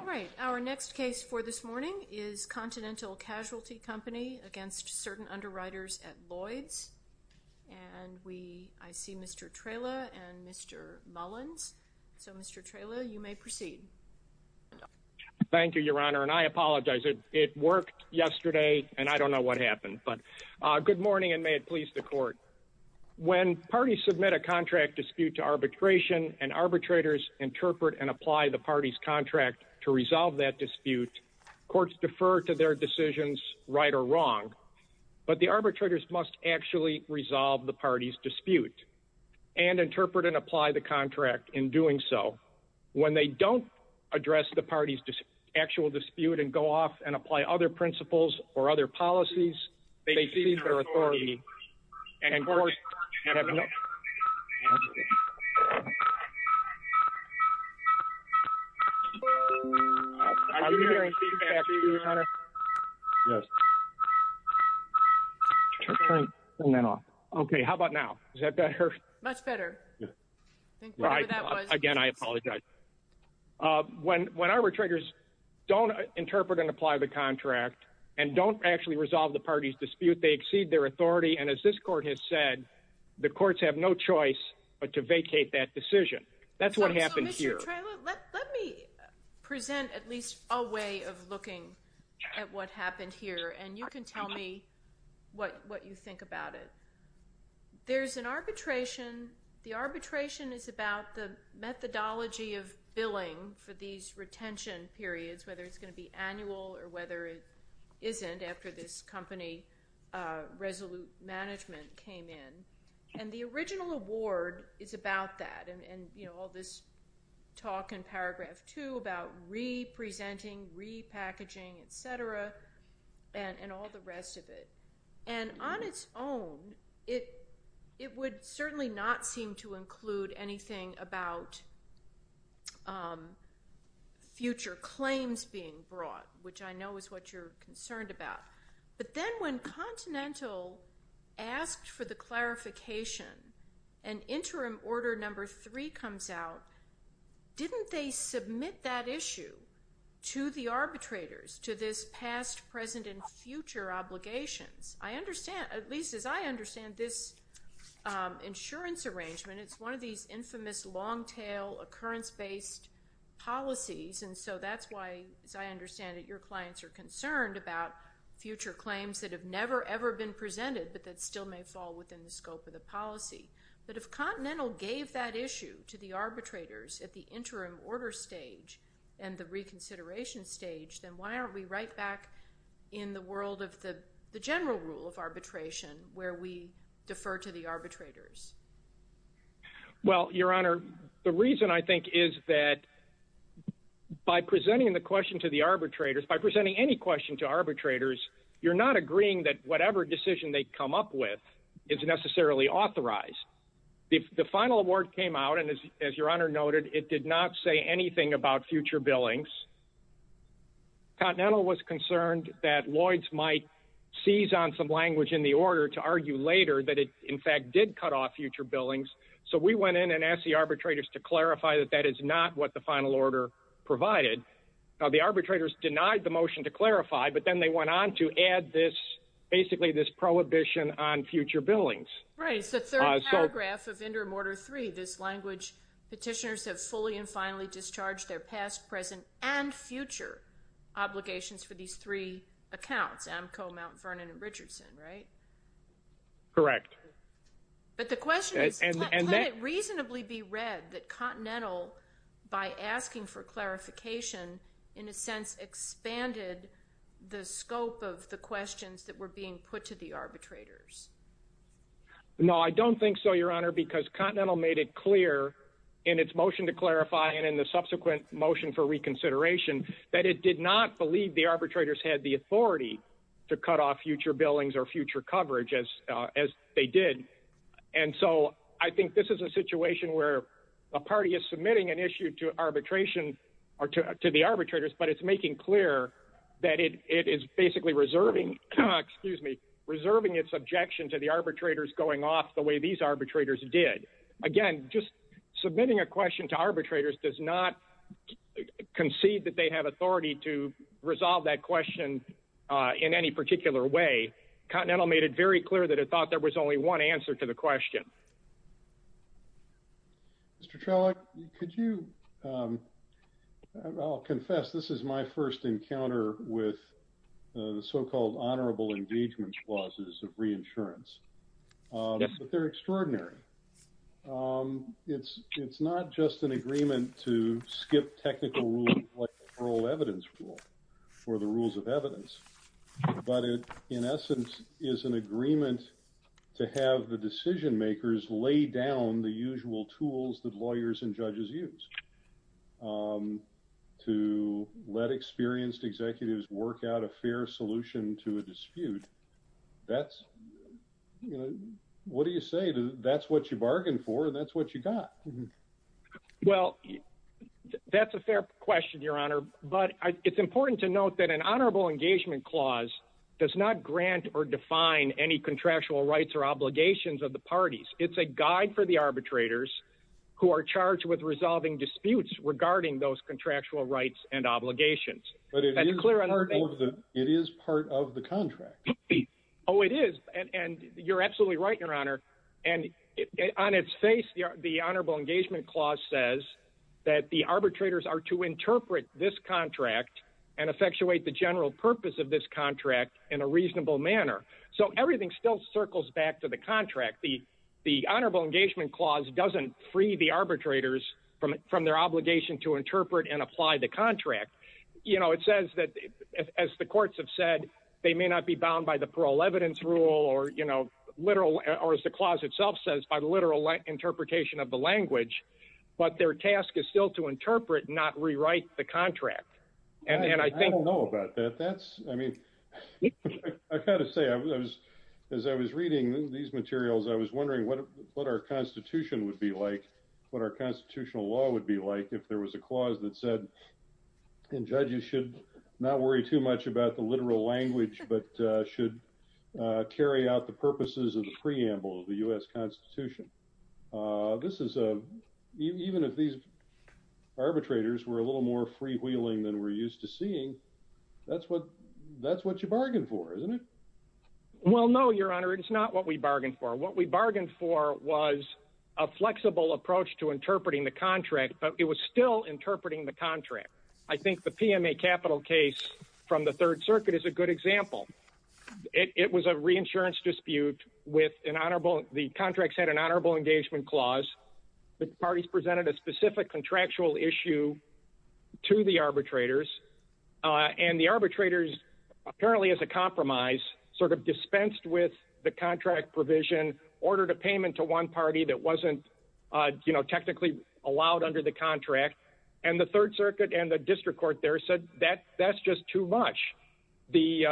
All right, our next case for this morning is Continental Casualty Company against Certain Underwriters at Lloyds, and I see Mr. Trela and Mr. Mullins. So, Mr. Trela, you may proceed. Thank you, Your Honor, and I apologize. It worked yesterday, and I don't know what happened, but good morning, and may it please the Court. When parties submit a contract dispute to arbitration and arbitrators interpret and apply the party's contract to resolve that dispute, courts defer to their decisions, right or wrong, but the arbitrators must actually resolve the party's dispute and interpret and apply the contract in doing so. When they don't address the party's actual dispute and go off and apply other principles or other policies, they cede their authority, and courts have no… Are you hearing feedback, too, Your Honor? Yes. Turn that off. Okay, how about now? Does that better? Much better. Again, I apologize. When arbitrators don't interpret and apply the contract and don't actually resolve the party's dispute, they cede their authority, and as this Court has said, the courts have no choice but to vacate that decision. That's what happened here. Let me present at least a way of looking at what happened here, and you can tell me what you think about it. There's an arbitration. The arbitration is about the methodology of billing for these retention periods, whether it's going to be annual or whether it isn't after this company resolute management came in, and the original award is about that and all this talk in paragraph 2 about re-presenting, re-packaging, et cetera, and all the rest of it. And on its own, it would certainly not seem to include anything about future claims being brought, which I know is what you're concerned about. But then when Continental asked for the clarification and Interim Order No. 3 comes out, didn't they submit that issue to the arbitrators, to this past, present, and future obligations? At least as I understand this insurance arrangement, it's one of these infamous, long-tail, occurrence-based policies, and so that's why, as I understand it, your clients are concerned about future claims that have never, ever been presented but that still may fall within the scope of the policy. But if Continental gave that issue to the arbitrators at the interim order stage and the reconsideration stage, then why aren't we right back in the world of the general rule of arbitration where we defer to the arbitrators? Well, Your Honor, the reason I think is that by presenting the question to the arbitrators, by presenting any question to arbitrators, you're not agreeing that whatever decision they come up with is necessarily authorized. The final award came out, and as Your Honor noted, it did not say anything about future billings. Continental was concerned that Lloyds might seize on some language in the order to argue later that it, in fact, did cut off future billings, so we went in and asked the arbitrators to clarify that that is not what the final order provided. Now, the arbitrators denied the motion to clarify, but then they went on to add basically this prohibition on future billings. Right, so third paragraph of Interim Order 3, this language, petitioners have fully and finally discharged their past, present, and future obligations for these three accounts, Amco, Mount Vernon, and Richardson, right? Correct. But the question is, can it reasonably be read that Continental, by asking for clarification, in a sense expanded the scope of the questions that were being put to the arbitrators? No, I don't think so, Your Honor, because Continental made it clear in its motion to clarify and in the subsequent motion for reconsideration that it did not believe the arbitrators had the authority to cut off future billings or future coverage as they did. And so I think this is a situation where a party is submitting an issue to arbitration or to the arbitrators, but it's making clear that it is basically reserving, excuse me, reserving its objection to the arbitrators going off the way these arbitrators did. Again, just submitting a question to arbitrators does not concede that they have authority to resolve that question in any particular way. Continental made it very clear that it thought there was only one answer to the question. Mr. Trello, could you, I'll confess, this is my first encounter with the so-called honorable engagement clauses of reinsurance, but they're extraordinary. It's not just an agreement to skip technical rules like the oral evidence rule or the rules of evidence, but it, in essence, is an agreement to have the decision makers lay down the usual tools that lawyers and judges use to let experienced executives work out a fair solution to a dispute. That's, you know, what do you say to that's what you bargained for and that's what you got. Well, that's a fair question, Your Honor, but it's important to note that an honorable engagement clause does not grant or define any contractual rights or obligations of the parties. It's a guide for the arbitrators who are charged with resolving disputes regarding those contractual rights and obligations. But it is part of the contract. Oh, it is. And you're absolutely right, Your Honor. And on its face, the honorable engagement clause says that the arbitrators are to interpret this contract and effectuate the general purpose of this contract in a reasonable manner. So everything still circles back to the contract. The honorable engagement clause doesn't free the arbitrators from their obligation to interpret and apply the contract. You know, it says that, as the courts have said, they may not be bound by the parole evidence rule or, you know, literal or as the clause itself says, by the literal interpretation of the language. But their task is still to interpret, not rewrite the contract. I don't know about that. That's, I mean, I've got to say, as I was reading these materials, I was wondering what our Constitution would be like, what our constitutional law would be like, if there was a clause that said judges should not worry too much about the literal language, but should carry out the purposes of the preamble of the U.S. Constitution. This is a, even if these arbitrators were a little more freewheeling than we're used to seeing, that's what, that's what you bargained for, isn't it? Well, no, Your Honor, it's not what we bargained for. What we bargained for was a flexible approach to interpreting the contract, but it was still interpreting the contract. I think the PMA capital case from the Third Circuit is a good example. It was a reinsurance dispute with an honorable, the contracts had an honorable engagement clause. The parties presented a specific contractual issue to the arbitrators, and the arbitrators, apparently as a compromise, sort of dispensed with the contract provision, ordered a payment to one party that wasn't, you know, technically allowed under the contract, and the Third Circuit and the district court there said that's just too much. The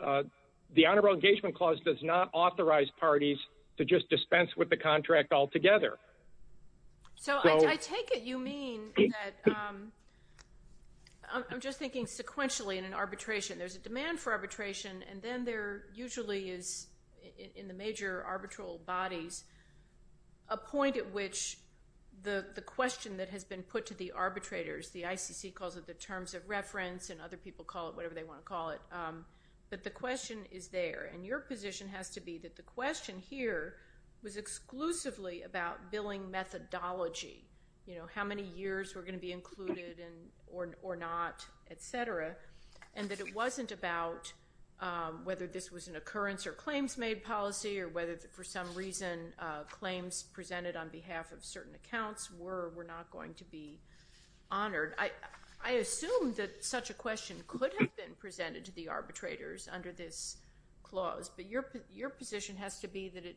honorable engagement clause does not authorize parties to just dispense with the contract altogether. So I take it you mean that, I'm just thinking sequentially in an arbitration, there's a demand for arbitration, and then there usually is, in the major arbitral bodies, a point at which the question that has been put to the arbitrators, the ICC calls it the terms of reference, and other people call it whatever they want to call it, but the question is there, and your position has to be that the question here was exclusively about billing methodology. You know, how many years were going to be included or not, et cetera, and that it wasn't about whether this was an occurrence or claims made policy, or whether for some reason claims presented on behalf of certain accounts were or were not going to be honored. I assume that such a question could have been presented to the arbitrators under this clause, but your position has to be that it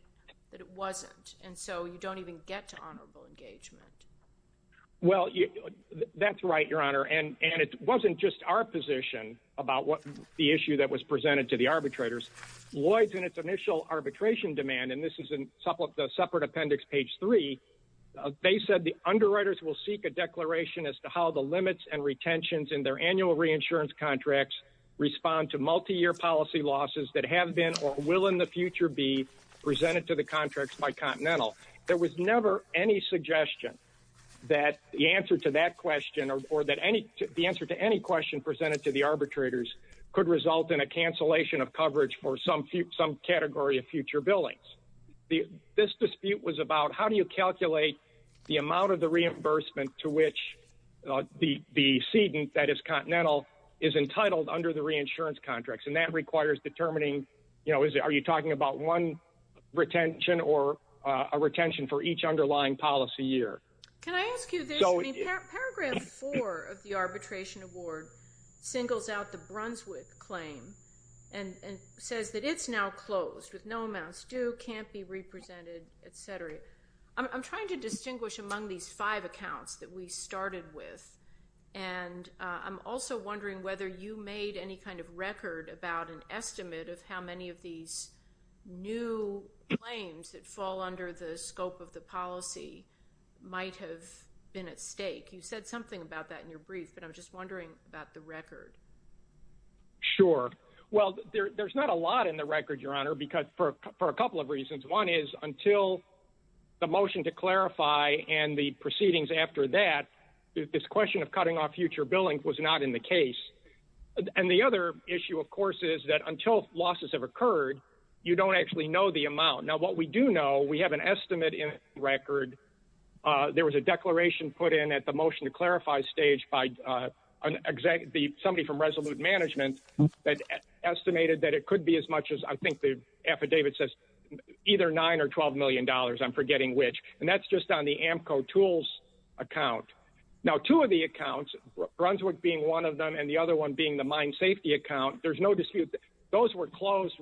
wasn't, and so you don't even get to honorable engagement. Well, that's right, Your Honor, and it wasn't just our position about the issue that was presented to the arbitrators. Lloyds, in its initial arbitration demand, and this is in the separate appendix, page 3, they said the underwriters will seek a declaration as to how the limits and retentions in their annual reinsurance contracts respond to multiyear policy losses that have been or will in the future be presented to the contracts by Continental. There was never any suggestion that the answer to that question or the answer to any question presented to the arbitrators could result in a cancellation of coverage for some category of future billings. This dispute was about how do you calculate the amount of the reimbursement to which the cedant that is Continental is entitled under the reinsurance contracts, and that requires determining, you know, are you talking about one retention or a retention for each underlying policy year? Can I ask you this? Paragraph 4 of the arbitration award singles out the Brunswick claim and says that it's now closed with no amounts due, can't be represented, et cetera. I'm trying to distinguish among these five accounts that we started with, and I'm also wondering whether you made any kind of record about an estimate of how many of these new claims that fall under the scope of the policy might have been at stake. You said something about that in your brief, but I'm just wondering about the record. Sure. Well, there's not a lot in the record, Your Honor, for a couple of reasons. One is until the motion to clarify and the proceedings after that, this question of cutting off future billing was not in the case. And the other issue, of course, is that until losses have occurred, you don't actually know the amount. Now, what we do know, we have an estimate in record. There was a declaration put in at the motion to clarify stage by somebody from Resolute Management that estimated that it could be as much as I think the affidavit says either $9 or $12 million, I'm forgetting which. And that's just on the AMCO tools account. Now, two of the accounts, Brunswick being one of them and the other one being the mine safety account, there's no dispute. Those were closed.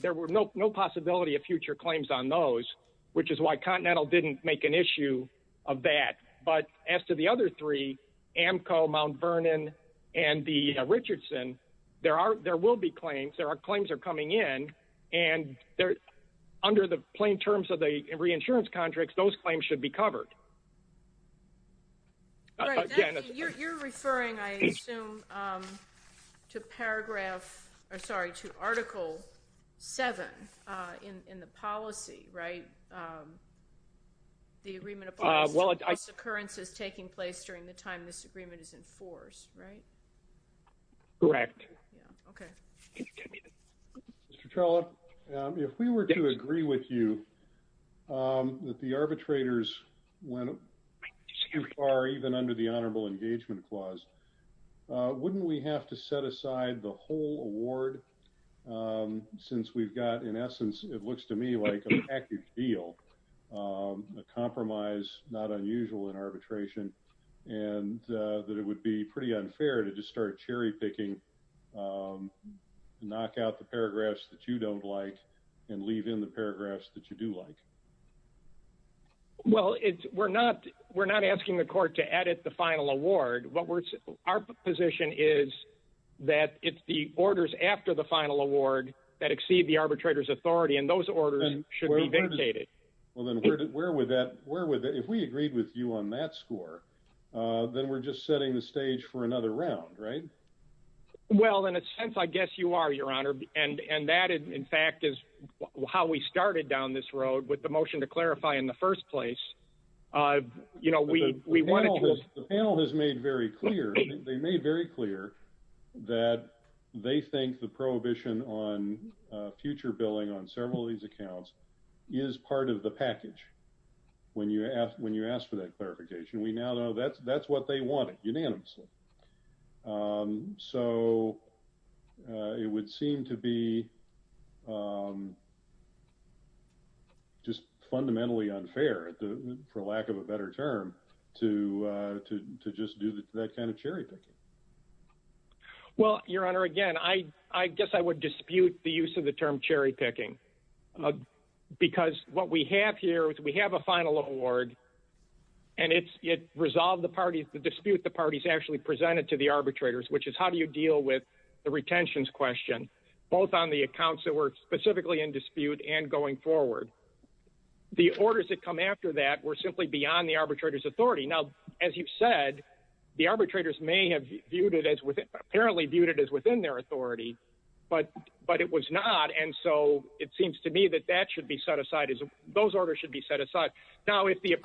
There were no possibility of future claims on those, which is why Continental didn't make an issue of that. But as to the other three, AMCO, Mount Vernon, and the Richardson, there will be claims. There are claims that are coming in. And under the plain terms of the reinsurance contracts, those claims should be covered. You're referring, I assume, to paragraph, sorry, to Article 7 in the policy, right? The agreement upon this occurrence is taking place during the time this agreement is enforced, right? Correct. Okay. Mr. Trello, if we were to agree with you that the arbitrators went too far, even under the Honorable Engagement Clause, wouldn't we have to set aside the whole award since we've got, in essence, it looks to me like a package deal, a compromise, not unusual in arbitration, and that it would be pretty unfair to just start cherry picking. Knock out the paragraphs that you don't like and leave in the paragraphs that you do like. Well, we're not asking the court to edit the final award. Our position is that it's the orders after the final award that exceed the arbitrator's authority, and those orders should be vinctated. Well, then where would that, if we agreed with you on that score, then we're just setting the stage for another round, right? Well, in a sense, I guess you are, Your Honor, and that, in fact, is how we started down this road with the motion to clarify in the first place. The panel has made very clear that they think the prohibition on future billing on several of these accounts is part of the package when you ask for that clarification. We now know that's what they wanted unanimously. So it would seem to be just fundamentally unfair, for lack of a better term, to just do that kind of cherry picking. Well, Your Honor, again, I guess I would dispute the use of the term cherry picking, because what we have here is we have a final award, and it resolved the dispute the parties actually presented to the arbitrators, which is how do you deal with the retentions question, both on the accounts that were specifically in dispute and going forward. The orders that come after that were simply beyond the arbitrator's authority. Now, as you said, the arbitrators may have viewed it as apparently viewed it as within their authority, but it was not. And so it seems to me that that should be set aside. Those orders should be set aside. Now, if the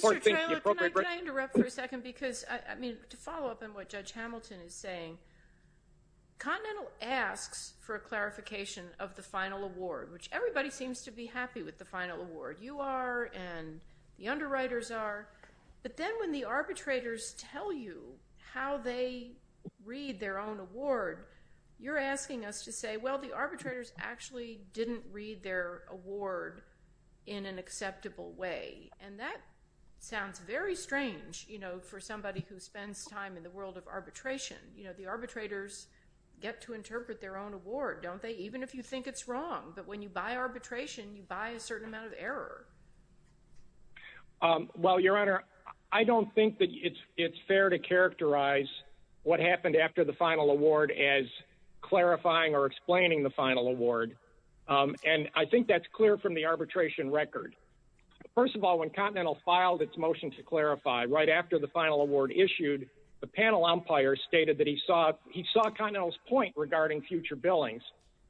court thinks the appropriate… Mr. Treloar, can I interrupt for a second? Because, I mean, to follow up on what Judge Hamilton is saying, Continental asks for a clarification of the final award, which everybody seems to be happy with the final award. You are, and the underwriters are. But then when the arbitrators tell you how they read their own award, you're asking us to say, well, the arbitrators actually didn't read their award in an acceptable way. And that sounds very strange, you know, for somebody who spends time in the world of arbitration. You know, the arbitrators get to interpret their own award, don't they? Even if you think it's wrong, but when you buy arbitration, you buy a certain amount of error. Well, Your Honor, I don't think that it's fair to characterize what happened after the final award as clarifying or explaining the final award. And I think that's clear from the arbitration record. First of all, when Continental filed its motion to clarify right after the final award issued, the panel umpire stated that he saw Continental's point regarding future billings.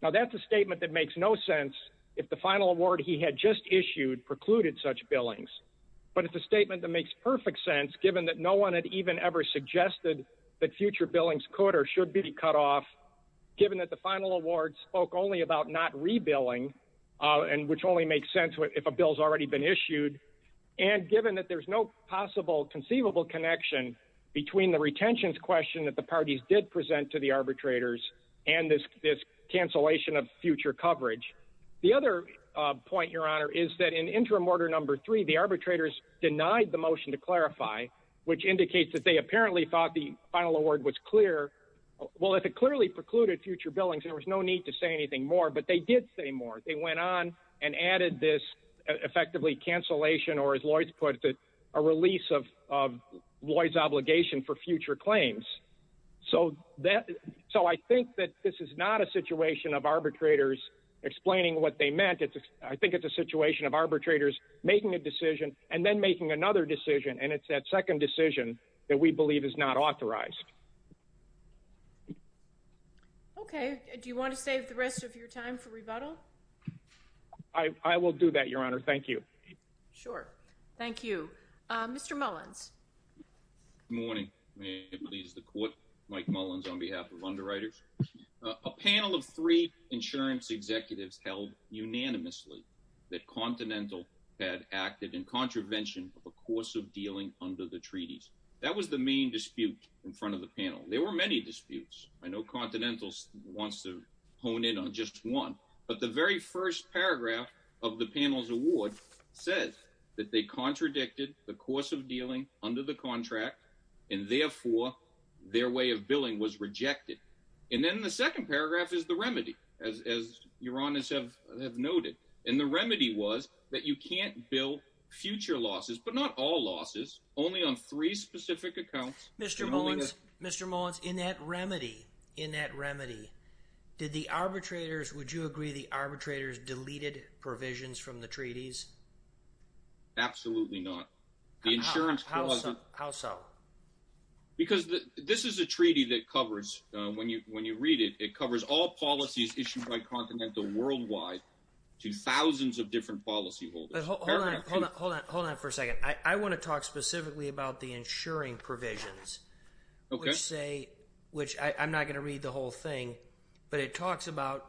Now, that's a statement that makes no sense if the final award he had just issued precluded such billings. But it's a statement that makes perfect sense, given that no one had even ever suggested that future billings could or should be cut off, given that the final award spoke only about not re-billing, which only makes sense if a bill's already been issued, and given that there's no possible conceivable connection between the retentions question that the parties did present to the arbitrators and this cancellation of future coverage. The other point, Your Honor, is that in Interim Order No. 3, the arbitrators denied the motion to clarify, which indicates that they apparently thought the final award was clear. Well, if it clearly precluded future billings, there was no need to say anything more, but they did say more. They went on and added this effectively cancellation, or as Lloyd put it, a release of Lloyd's obligation for future claims. So I think that this is not a situation of arbitrators explaining what they meant. I think it's a situation of arbitrators making a decision and then making another decision, and it's that second decision that we believe is not authorized. Okay. Do you want to save the rest of your time for rebuttal? I will do that, Your Honor. Thank you. Sure. Thank you. Mr. Mullins. Good morning. May it please the Court, Mike Mullins on behalf of Underwriters. A panel of three insurance executives held unanimously that Continental had acted in contravention of a course of dealing under the treaties. That was the main dispute in front of the panel. There were many disputes. I know Continental wants to hone in on just one. But the very first paragraph of the panel's award says that they contradicted the course of dealing under the contract, and therefore their way of billing was rejected. And then the second paragraph is the remedy, as Your Honors have noted. And the remedy was that you can't bill future losses, but not all losses, only on three specific accounts. Mr. Mullins, Mr. Mullins, in that remedy, in that remedy, did the arbitrators, would you agree the arbitrators deleted provisions from the treaties? Absolutely not. How so? Because this is a treaty that covers, when you read it, it covers all policies issued by Continental worldwide to thousands of different policyholders. But hold on, hold on, hold on for a second. I want to talk specifically about the insuring provisions. Okay. I'm not going to read the whole thing. But it talks about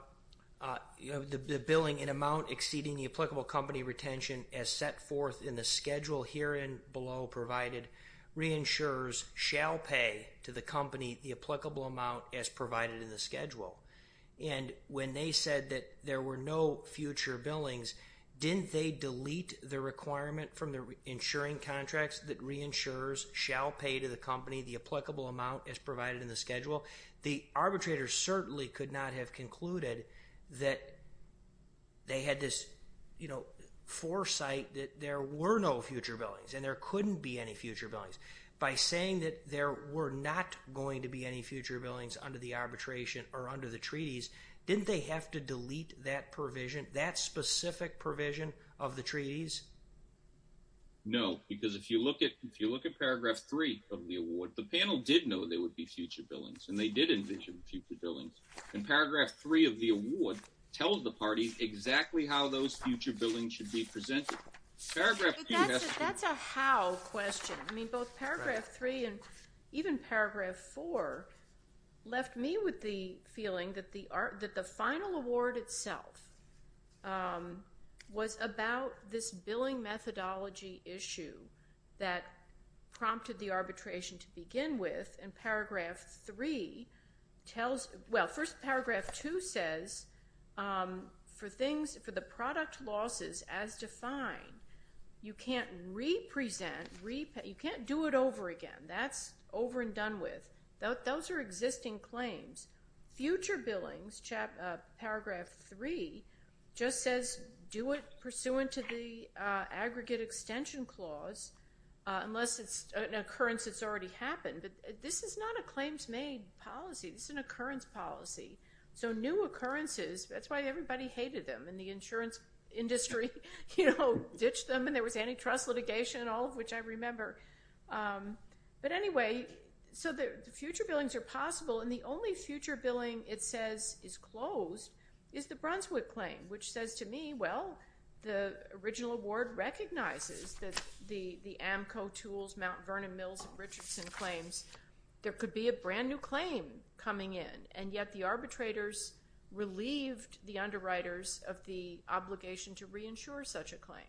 the billing in amount exceeding the applicable company retention as set forth in the schedule herein below provided, reinsurers shall pay to the company the applicable amount as provided in the schedule. And when they said that there were no future billings, didn't they delete the requirement from the insuring contracts that reinsurers shall pay to the company the applicable amount as provided in the schedule? The arbitrators certainly could not have concluded that they had this, you know, foresight that there were no future billings and there couldn't be any future billings. By saying that there were not going to be any future billings under the arbitration or under the treaties, didn't they have to delete that provision? That specific provision of the treaties? No, because if you look at paragraph three of the award, the panel did know there would be future billings and they did envision future billings. And paragraph three of the award tells the party exactly how those future billings should be presented. That's a how question. I mean, both paragraph three and even paragraph four left me with the feeling that the final award itself was about this billing methodology issue that prompted the arbitration to begin with. Well, first paragraph two says for the product losses as defined, you can't do it over again. That's over and done with. Those are existing claims. Future billings, paragraph three, just says do it pursuant to the aggregate extension clause unless it's an occurrence that's already happened. But this is not a claims made policy. This is an occurrence policy. So new occurrences, that's why everybody hated them and the insurance industry ditched them and there was antitrust litigation, all of which I remember. But anyway, so the future billings are possible. And the only future billing it says is closed is the Brunswick claim, which says to me, well, the original award recognizes that the AMCO tools, Mount Vernon Mills and Richardson claims, there could be a brand new claim coming in. And yet the arbitrators relieved the underwriters of the obligation to reinsure such a claim.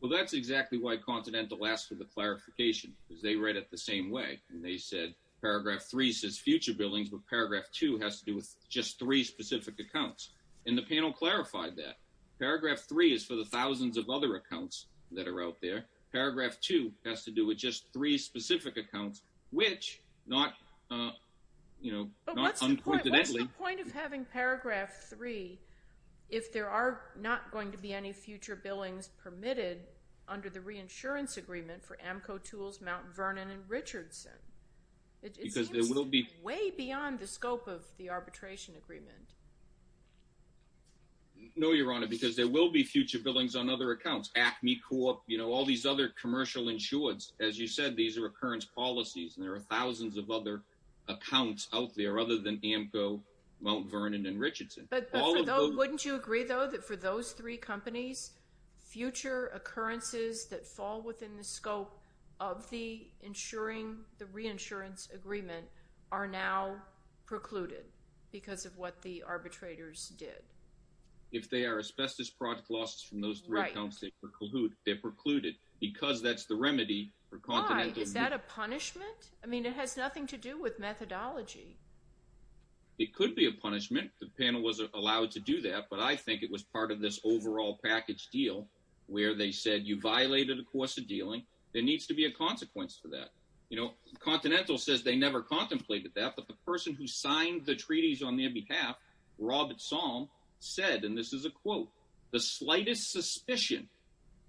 Well, that's exactly why Continental asked for the clarification, because they read it the same way. And they said paragraph three says future billings, but paragraph two has to do with just three specific accounts. And the panel clarified that. Paragraph three is for the thousands of other accounts that are out there. But what's the point of having paragraph three if there are not going to be any future billings permitted under the reinsurance agreement for AMCO tools, Mount Vernon and Richardson? Because there will be way beyond the scope of the arbitration agreement. No, Your Honor, because there will be future billings on other accounts, Acme Corp, you know, all these other commercial insurance. As you said, these are occurrence policies, and there are thousands of other accounts out there other than AMCO, Mount Vernon and Richardson. But wouldn't you agree, though, that for those three companies, future occurrences that fall within the scope of the insuring the reinsurance agreement are now precluded because of what the arbitrators did? If they are asbestos product losses from those three accounts, they're precluded because that's the remedy for Continental. Is that a punishment? I mean, it has nothing to do with methodology. It could be a punishment. The panel was allowed to do that. But I think it was part of this overall package deal where they said you violated the course of dealing. There needs to be a consequence for that. You know, Continental says they never contemplated that. But the person who signed the treaties on their behalf, Robert Song, said, and this is a quote, the slightest suspicion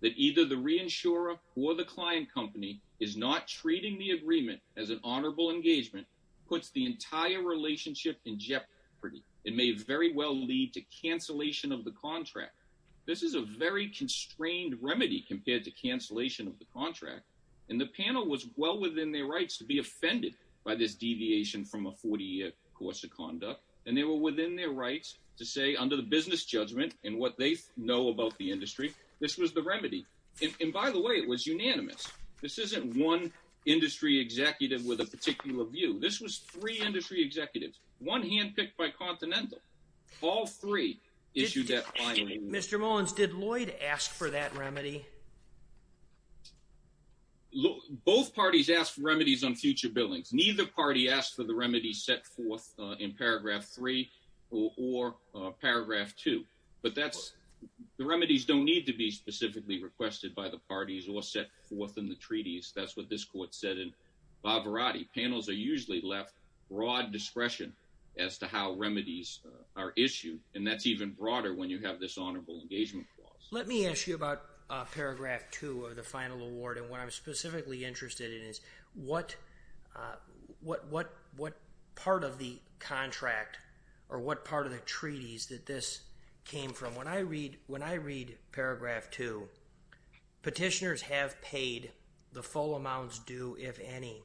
that either the reinsurer or the client company is not treating the agreement as an honorable engagement puts the entire relationship in jeopardy. It may very well lead to cancellation of the contract. This is a very constrained remedy compared to cancellation of the contract. And the panel was well within their rights to be offended by this deviation from a 40-year course of conduct. And they were within their rights to say under the business judgment and what they know about the industry, this was the remedy. And by the way, it was unanimous. This isn't one industry executive with a particular view. This was three industry executives, one handpicked by Continental. All three issued that final ruling. Mr. Mullins, did Lloyd ask for that remedy? Both parties asked for remedies on future billings. Neither party asked for the remedies set forth in paragraph three or paragraph two. But that's, the remedies don't need to be specifically requested by the parties or set forth in the treaties. That's what this court said in Bavarati. Panels are usually left broad discretion as to how remedies are issued. And that's even broader when you have this honorable engagement clause. Let me ask you about paragraph two of the final award and what I'm specifically interested in is what part of the contract or what part of the treaties that this came from. When I read paragraph two, petitioners have paid the full amounts due if any.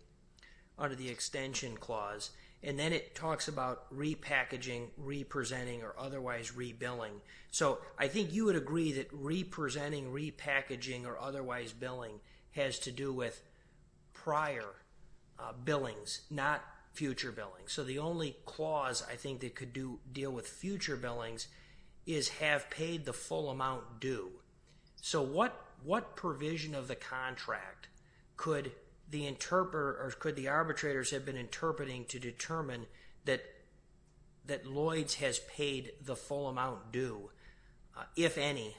Under the extension clause. And then it talks about repackaging, representing, or otherwise rebilling. So I think you would agree that representing, repackaging, or otherwise billing has to do with prior billings, not future billings. So the only clause I think that could deal with future billings is have paid the full amount due. So what provision of the contract could the arbitrators have been interpreting to determine that Lloyds has paid the full amount due, if any,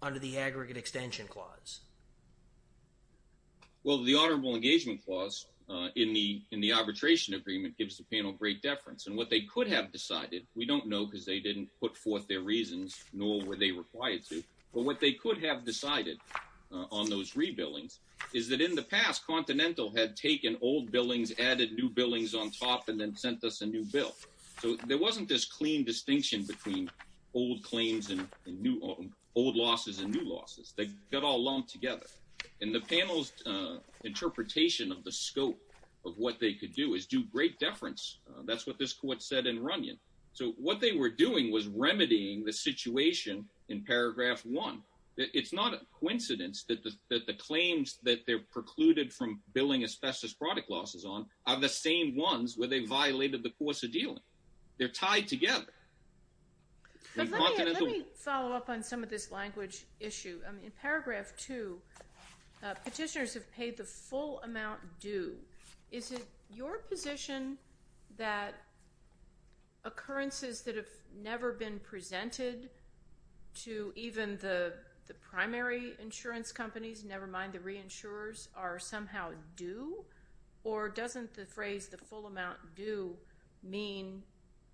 under the aggregate extension clause? Well, the honorable engagement clause in the arbitration agreement gives the panel great deference. And what they could have decided, we don't know because they didn't put forth their reasons, nor were they required to. But what they could have decided on those rebillings is that in the past, Continental had taken old billings, added new billings on top, and then sent us a new bill. So there wasn't this clean distinction between old claims and old losses and new losses. They got all lumped together. And the panel's interpretation of the scope of what they could do is do great deference. That's what this court said in Runyon. So what they were doing was remedying the situation in paragraph one. It's not a coincidence that the claims that they've precluded from billing asbestos product losses on are the same ones where they violated the course of dealing. They're tied together. Let me follow up on some of this language issue. In paragraph two, petitioners have paid the full amount due. Is it your position that occurrences that have never been presented to even the primary insurance companies, never mind the reinsurers, are somehow due? Or doesn't the phrase the full amount due mean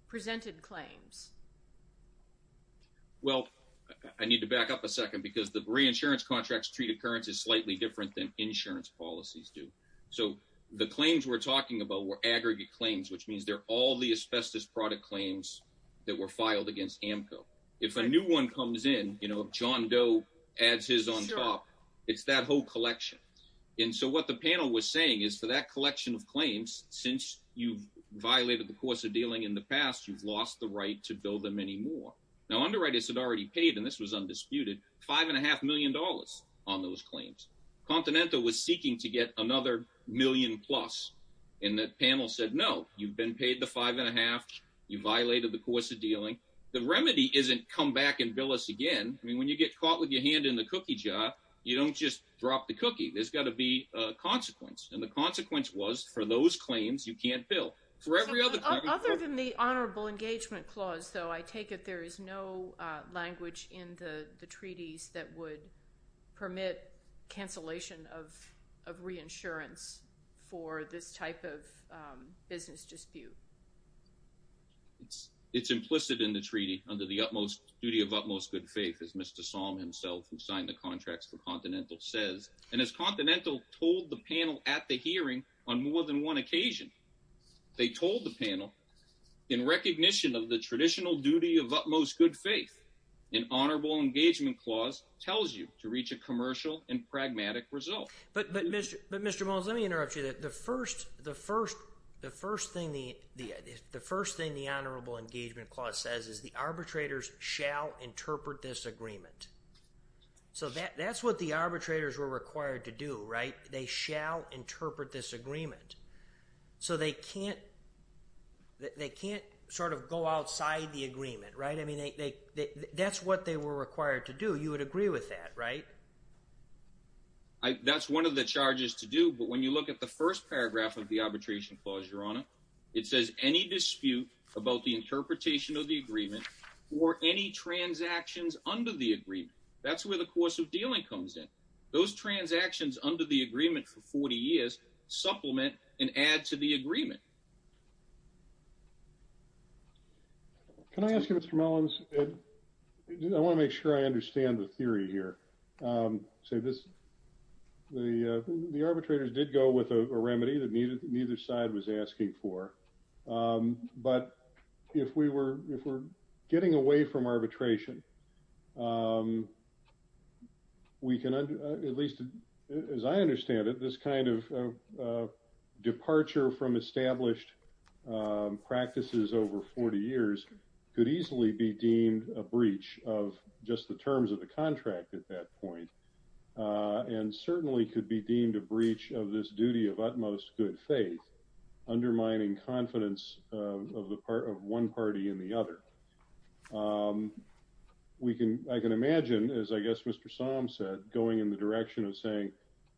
presented claims? Well, I need to back up a second because the reinsurance contracts treat occurrences slightly different than insurance policies do. So the claims we're talking about were aggregate claims, which means they're all the asbestos product claims that were filed against AMCO. If a new one comes in, you know, if John Doe adds his on top, it's that whole collection. And so what the panel was saying is for that collection of claims, since you've violated the course of dealing in the past, you've lost the right to bill them anymore. Now, underwriters had already paid, and this was undisputed, five and a half million dollars on those claims. Continental was seeking to get another million plus. And that panel said, no, you've been paid the five and a half. You violated the course of dealing. The remedy isn't come back and bill us again. I mean, when you get caught with your hand in the cookie jar, you don't just drop the cookie. There's got to be a consequence. And the consequence was for those claims, you can't bill for every other other than the honorable engagement clause. So I take it there is no language in the treaties that would permit cancellation of of reinsurance for this type of business dispute. It's implicit in the treaty under the utmost duty of utmost good faith, as Mr. Song himself, who signed the contracts for Continental, says. And as Continental told the panel at the hearing on more than one occasion, they told the panel in recognition of the traditional duty of utmost good faith, an honorable engagement clause tells you to reach a commercial and pragmatic result. But, but, but, Mr. Let me interrupt you that the first the first the first thing the the first thing the honorable engagement clause says is the arbitrators shall interpret this agreement. So that's what the arbitrators were required to do. Right. They shall interpret this agreement. So they can't. They can't sort of go outside the agreement. Right. I mean, that's what they were required to do. You would agree with that. Right. That's one of the charges to do. But when you look at the first paragraph of the arbitration clause, your honor, it says any dispute about the interpretation of the agreement or any transactions under the agreement. That's where the course of dealing comes in. Those transactions under the agreement for 40 years supplement and add to the agreement. Can I ask you, Mr. I want to make sure I understand the theory here. So this, the, the arbitrators did go with a remedy that needed neither side was asking for. But if we were getting away from arbitration, we can at least, as I understand it, this kind of departure from established practices over 40 years could easily be deemed a breach of just the terms of the contract at that point. And certainly could be deemed a breach of this duty of utmost good faith, undermining confidence of the part of one party and the other. We can I can imagine, as I guess Mr. Psalm said, going in the direction of saying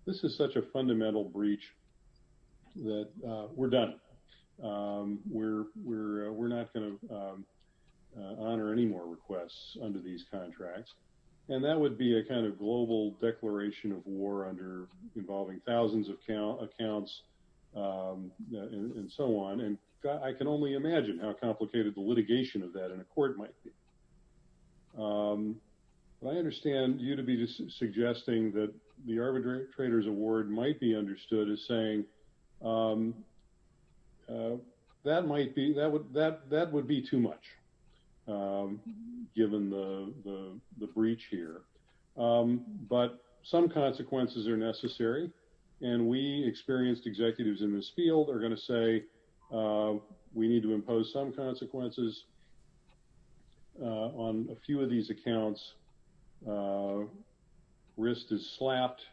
this is such a fundamental breach that we're done. We're we're we're not going to honor any more requests under these contracts. And that would be a kind of global declaration of war under involving thousands of accounts, accounts, and so on. And I can only imagine how complicated the litigation of that in a court might be. I understand you to be suggesting that the arbitrators award might be understood as saying that might be that would that that would be too much. Given the breach here. But some consequences are necessary. And we experienced executives in this field are going to say we need to impose some consequences on a few of these accounts. Risk is slapped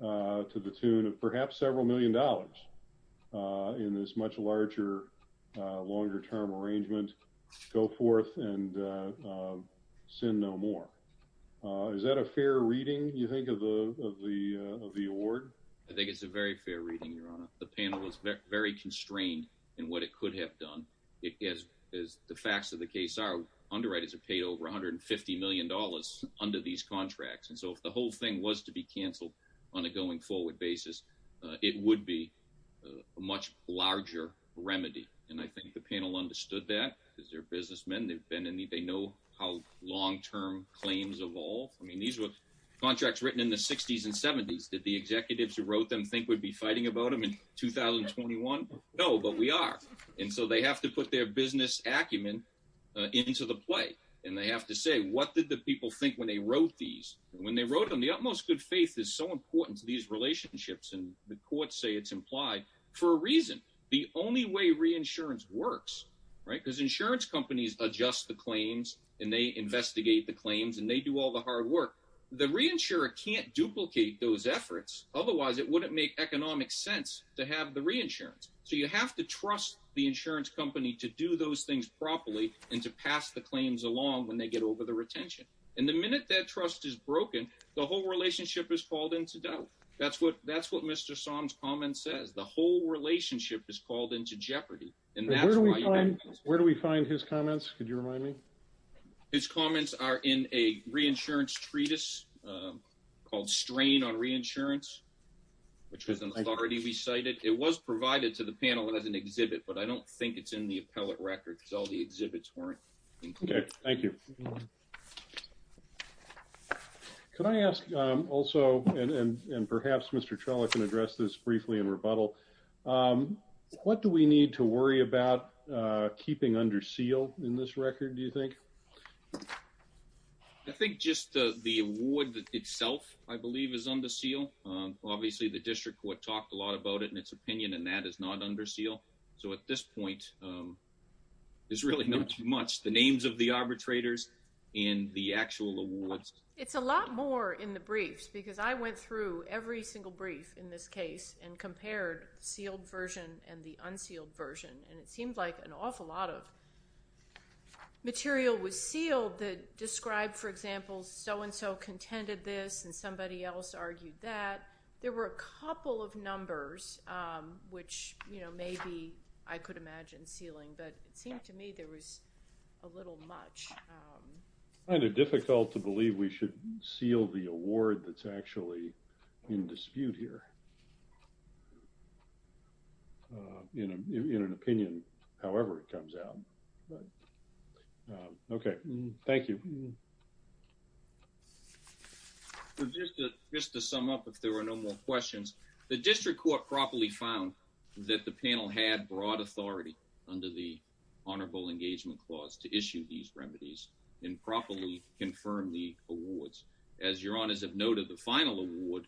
to the tune of perhaps several million dollars in this much larger, longer term arrangement. Go forth and send no more. Is that a fair reading? You think of the of the of the award? I think it's a very fair reading. The panel is very constrained in what it could have done. It is, as the facts of the case are, underwriters have paid over one hundred and fifty million dollars under these contracts. And so if the whole thing was to be canceled on a going forward basis, it would be a much larger remedy. And I think the panel understood that because they're businessmen. They've been in need. They know how long term claims evolve. I mean, these were contracts written in the 60s and 70s that the executives who wrote them think would be fighting about them in 2021. No, but we are. And so they have to put their business acumen into the play. And they have to say, what did the people think when they wrote these when they wrote them? The utmost good faith is so important to these relationships. And the courts say it's implied for a reason. The only way reinsurance works, right, because insurance companies adjust the claims and they investigate the claims and they do all the hard work. The reinsurer can't duplicate those efforts. Otherwise, it wouldn't make economic sense to have the reinsurance. So you have to trust the insurance company to do those things properly and to pass the claims along when they get over the retention. And the minute that trust is broken, the whole relationship is called into doubt. That's what that's what Mr. Somme's comment says. The whole relationship is called into jeopardy. And that's where do we find his comments? Could you remind me? His comments are in a reinsurance treatise called Strain on Reinsurance, which was already recited. It was provided to the panel as an exhibit, but I don't think it's in the appellate records. All the exhibits weren't. OK, thank you. Can I ask also, and perhaps Mr. Trello can address this briefly in rebuttal. What do we need to worry about keeping under seal in this record, do you think? I think just the award itself, I believe, is under seal. Obviously, the district court talked a lot about it in its opinion, and that is not under seal. So at this point, there's really not much. The names of the arbitrators and the actual awards. It's a lot more in the briefs, because I went through every single brief in this case and compared the sealed version and the unsealed version. And it seemed like an awful lot of material was sealed that described, for example, so-and-so contended this and somebody else argued that. There were a couple of numbers which, you know, maybe I could imagine sealing, but it seemed to me there was a little much. I find it difficult to believe we should seal the award that's actually in dispute here. You know, in an opinion, however it comes out. OK, thank you. Just to sum up, if there are no more questions, the district court properly found that the panel had broad authority under the Honorable Engagement Clause to issue these remedies and properly confirm the awards. As your honors have noted, the final award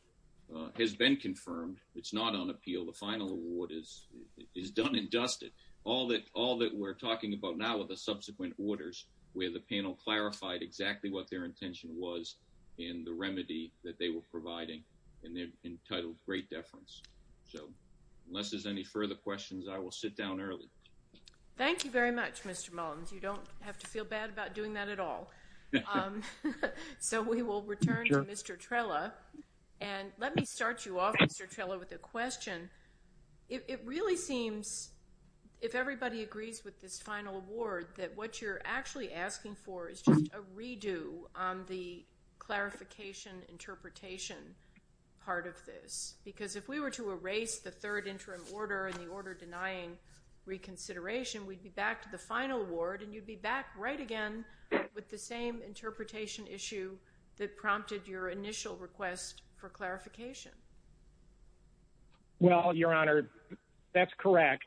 has been confirmed. It's not on appeal. The final award is done and dusted. All that we're talking about now are the subsequent orders where the panel clarified exactly what their intention was in the remedy that they were providing, and they're entitled great deference. So unless there's any further questions, I will sit down early. Thank you very much, Mr. Mullins. You don't have to feel bad about doing that at all. So we will return to Mr. Trella, and let me start you off, Mr. Trella, with a question. It really seems, if everybody agrees with this final award, that what you're actually asking for is just a redo on the clarification interpretation part of this. Because if we were to erase the third interim order and the order denying reconsideration, we'd be back to the final award and you'd be back right again with the same interpretation issue that prompted your initial request for clarification. Well, Your Honor, that's correct.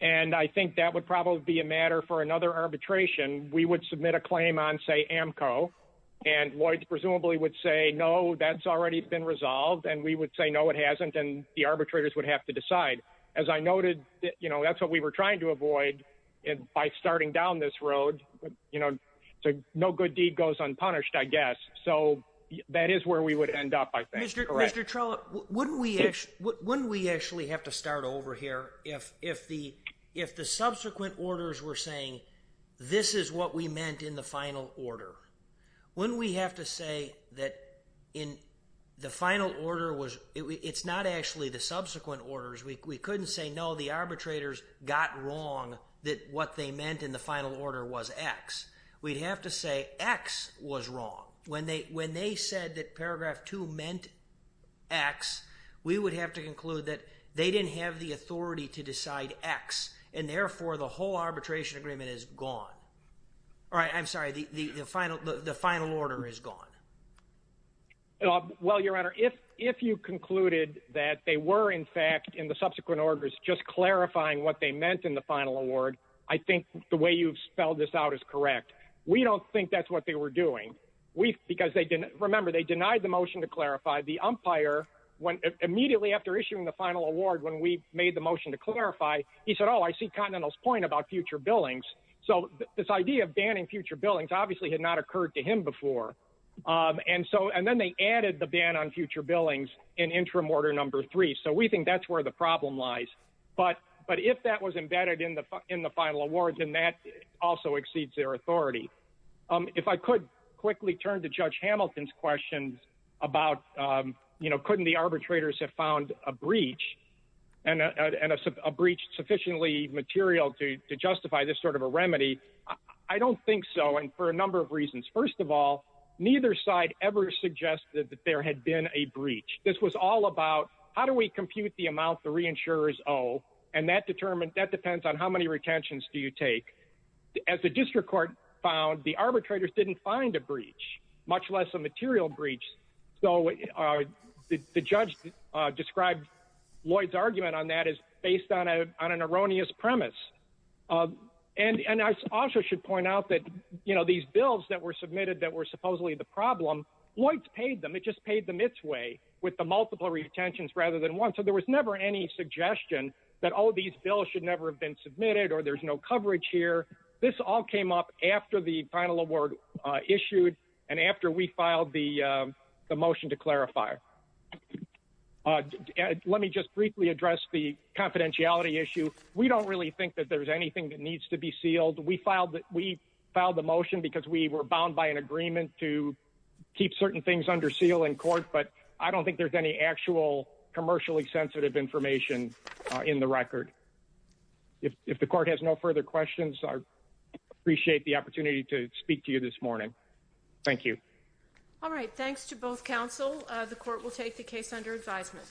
And I think that would probably be a matter for another arbitration. We would submit a claim on, say, AMCO, and Lloyd presumably would say, no, that's already been resolved. And we would say, no, it hasn't. And the arbitrators would have to decide. As I noted, you know, that's what we were trying to avoid. And by starting down this road, you know, no good deed goes unpunished, I guess. So that is where we would end up, I think. Mr. Trella, wouldn't we actually have to start over here if the subsequent orders were saying, this is what we meant in the final order? Wouldn't we have to say that in the final order, it's not actually the subsequent orders. We couldn't say, no, the arbitrators got wrong that what they meant in the final order was X. We'd have to say X was wrong. When they said that paragraph 2 meant X, we would have to conclude that they didn't have the authority to decide X. And therefore, the whole arbitration agreement is gone. All right, I'm sorry, the final order is gone. Well, Your Honor, if you concluded that they were, in fact, in the subsequent orders, just clarifying what they meant in the final award, I think the way you've spelled this out is correct. We don't think that's what they were doing. Remember, they denied the motion to clarify. The umpire, immediately after issuing the final award, when we made the motion to clarify, he said, oh, I see Continental's point about future billings. So this idea of banning future billings obviously had not occurred to him before. And then they added the ban on future billings in interim order number 3. So we think that's where the problem lies. But if that was embedded in the final award, then that also exceeds their authority. If I could quickly turn to Judge Hamilton's question about, you know, couldn't the arbitrators have found a breach and a breach sufficiently material to justify this sort of a remedy? I don't think so, and for a number of reasons. First of all, neither side ever suggested that there had been a breach. This was all about how do we compute the amount the reinsurers owe, and that depends on how many retentions do you take. As the district court found, the arbitrators didn't find a breach, much less a material breach. So the judge described Lloyd's argument on that as based on an erroneous premise. And I also should point out that, you know, these bills that were submitted that were supposedly the problem, Lloyd's paid them. It just paid them its way with the multiple retentions rather than one. So there was never any suggestion that, oh, these bills should never have been submitted or there's no coverage here. This all came up after the final award issued and after we filed the motion to clarify. Let me just briefly address the confidentiality issue. We don't really think that there's anything that needs to be sealed. We filed the motion because we were bound by an agreement to keep certain things under seal in court, but I don't think there's any actual commercially sensitive information in the record. If the court has no further questions, I appreciate the opportunity to speak to you this morning. Thank you. All right. Thanks to both counsel. The court will take the case under advisement.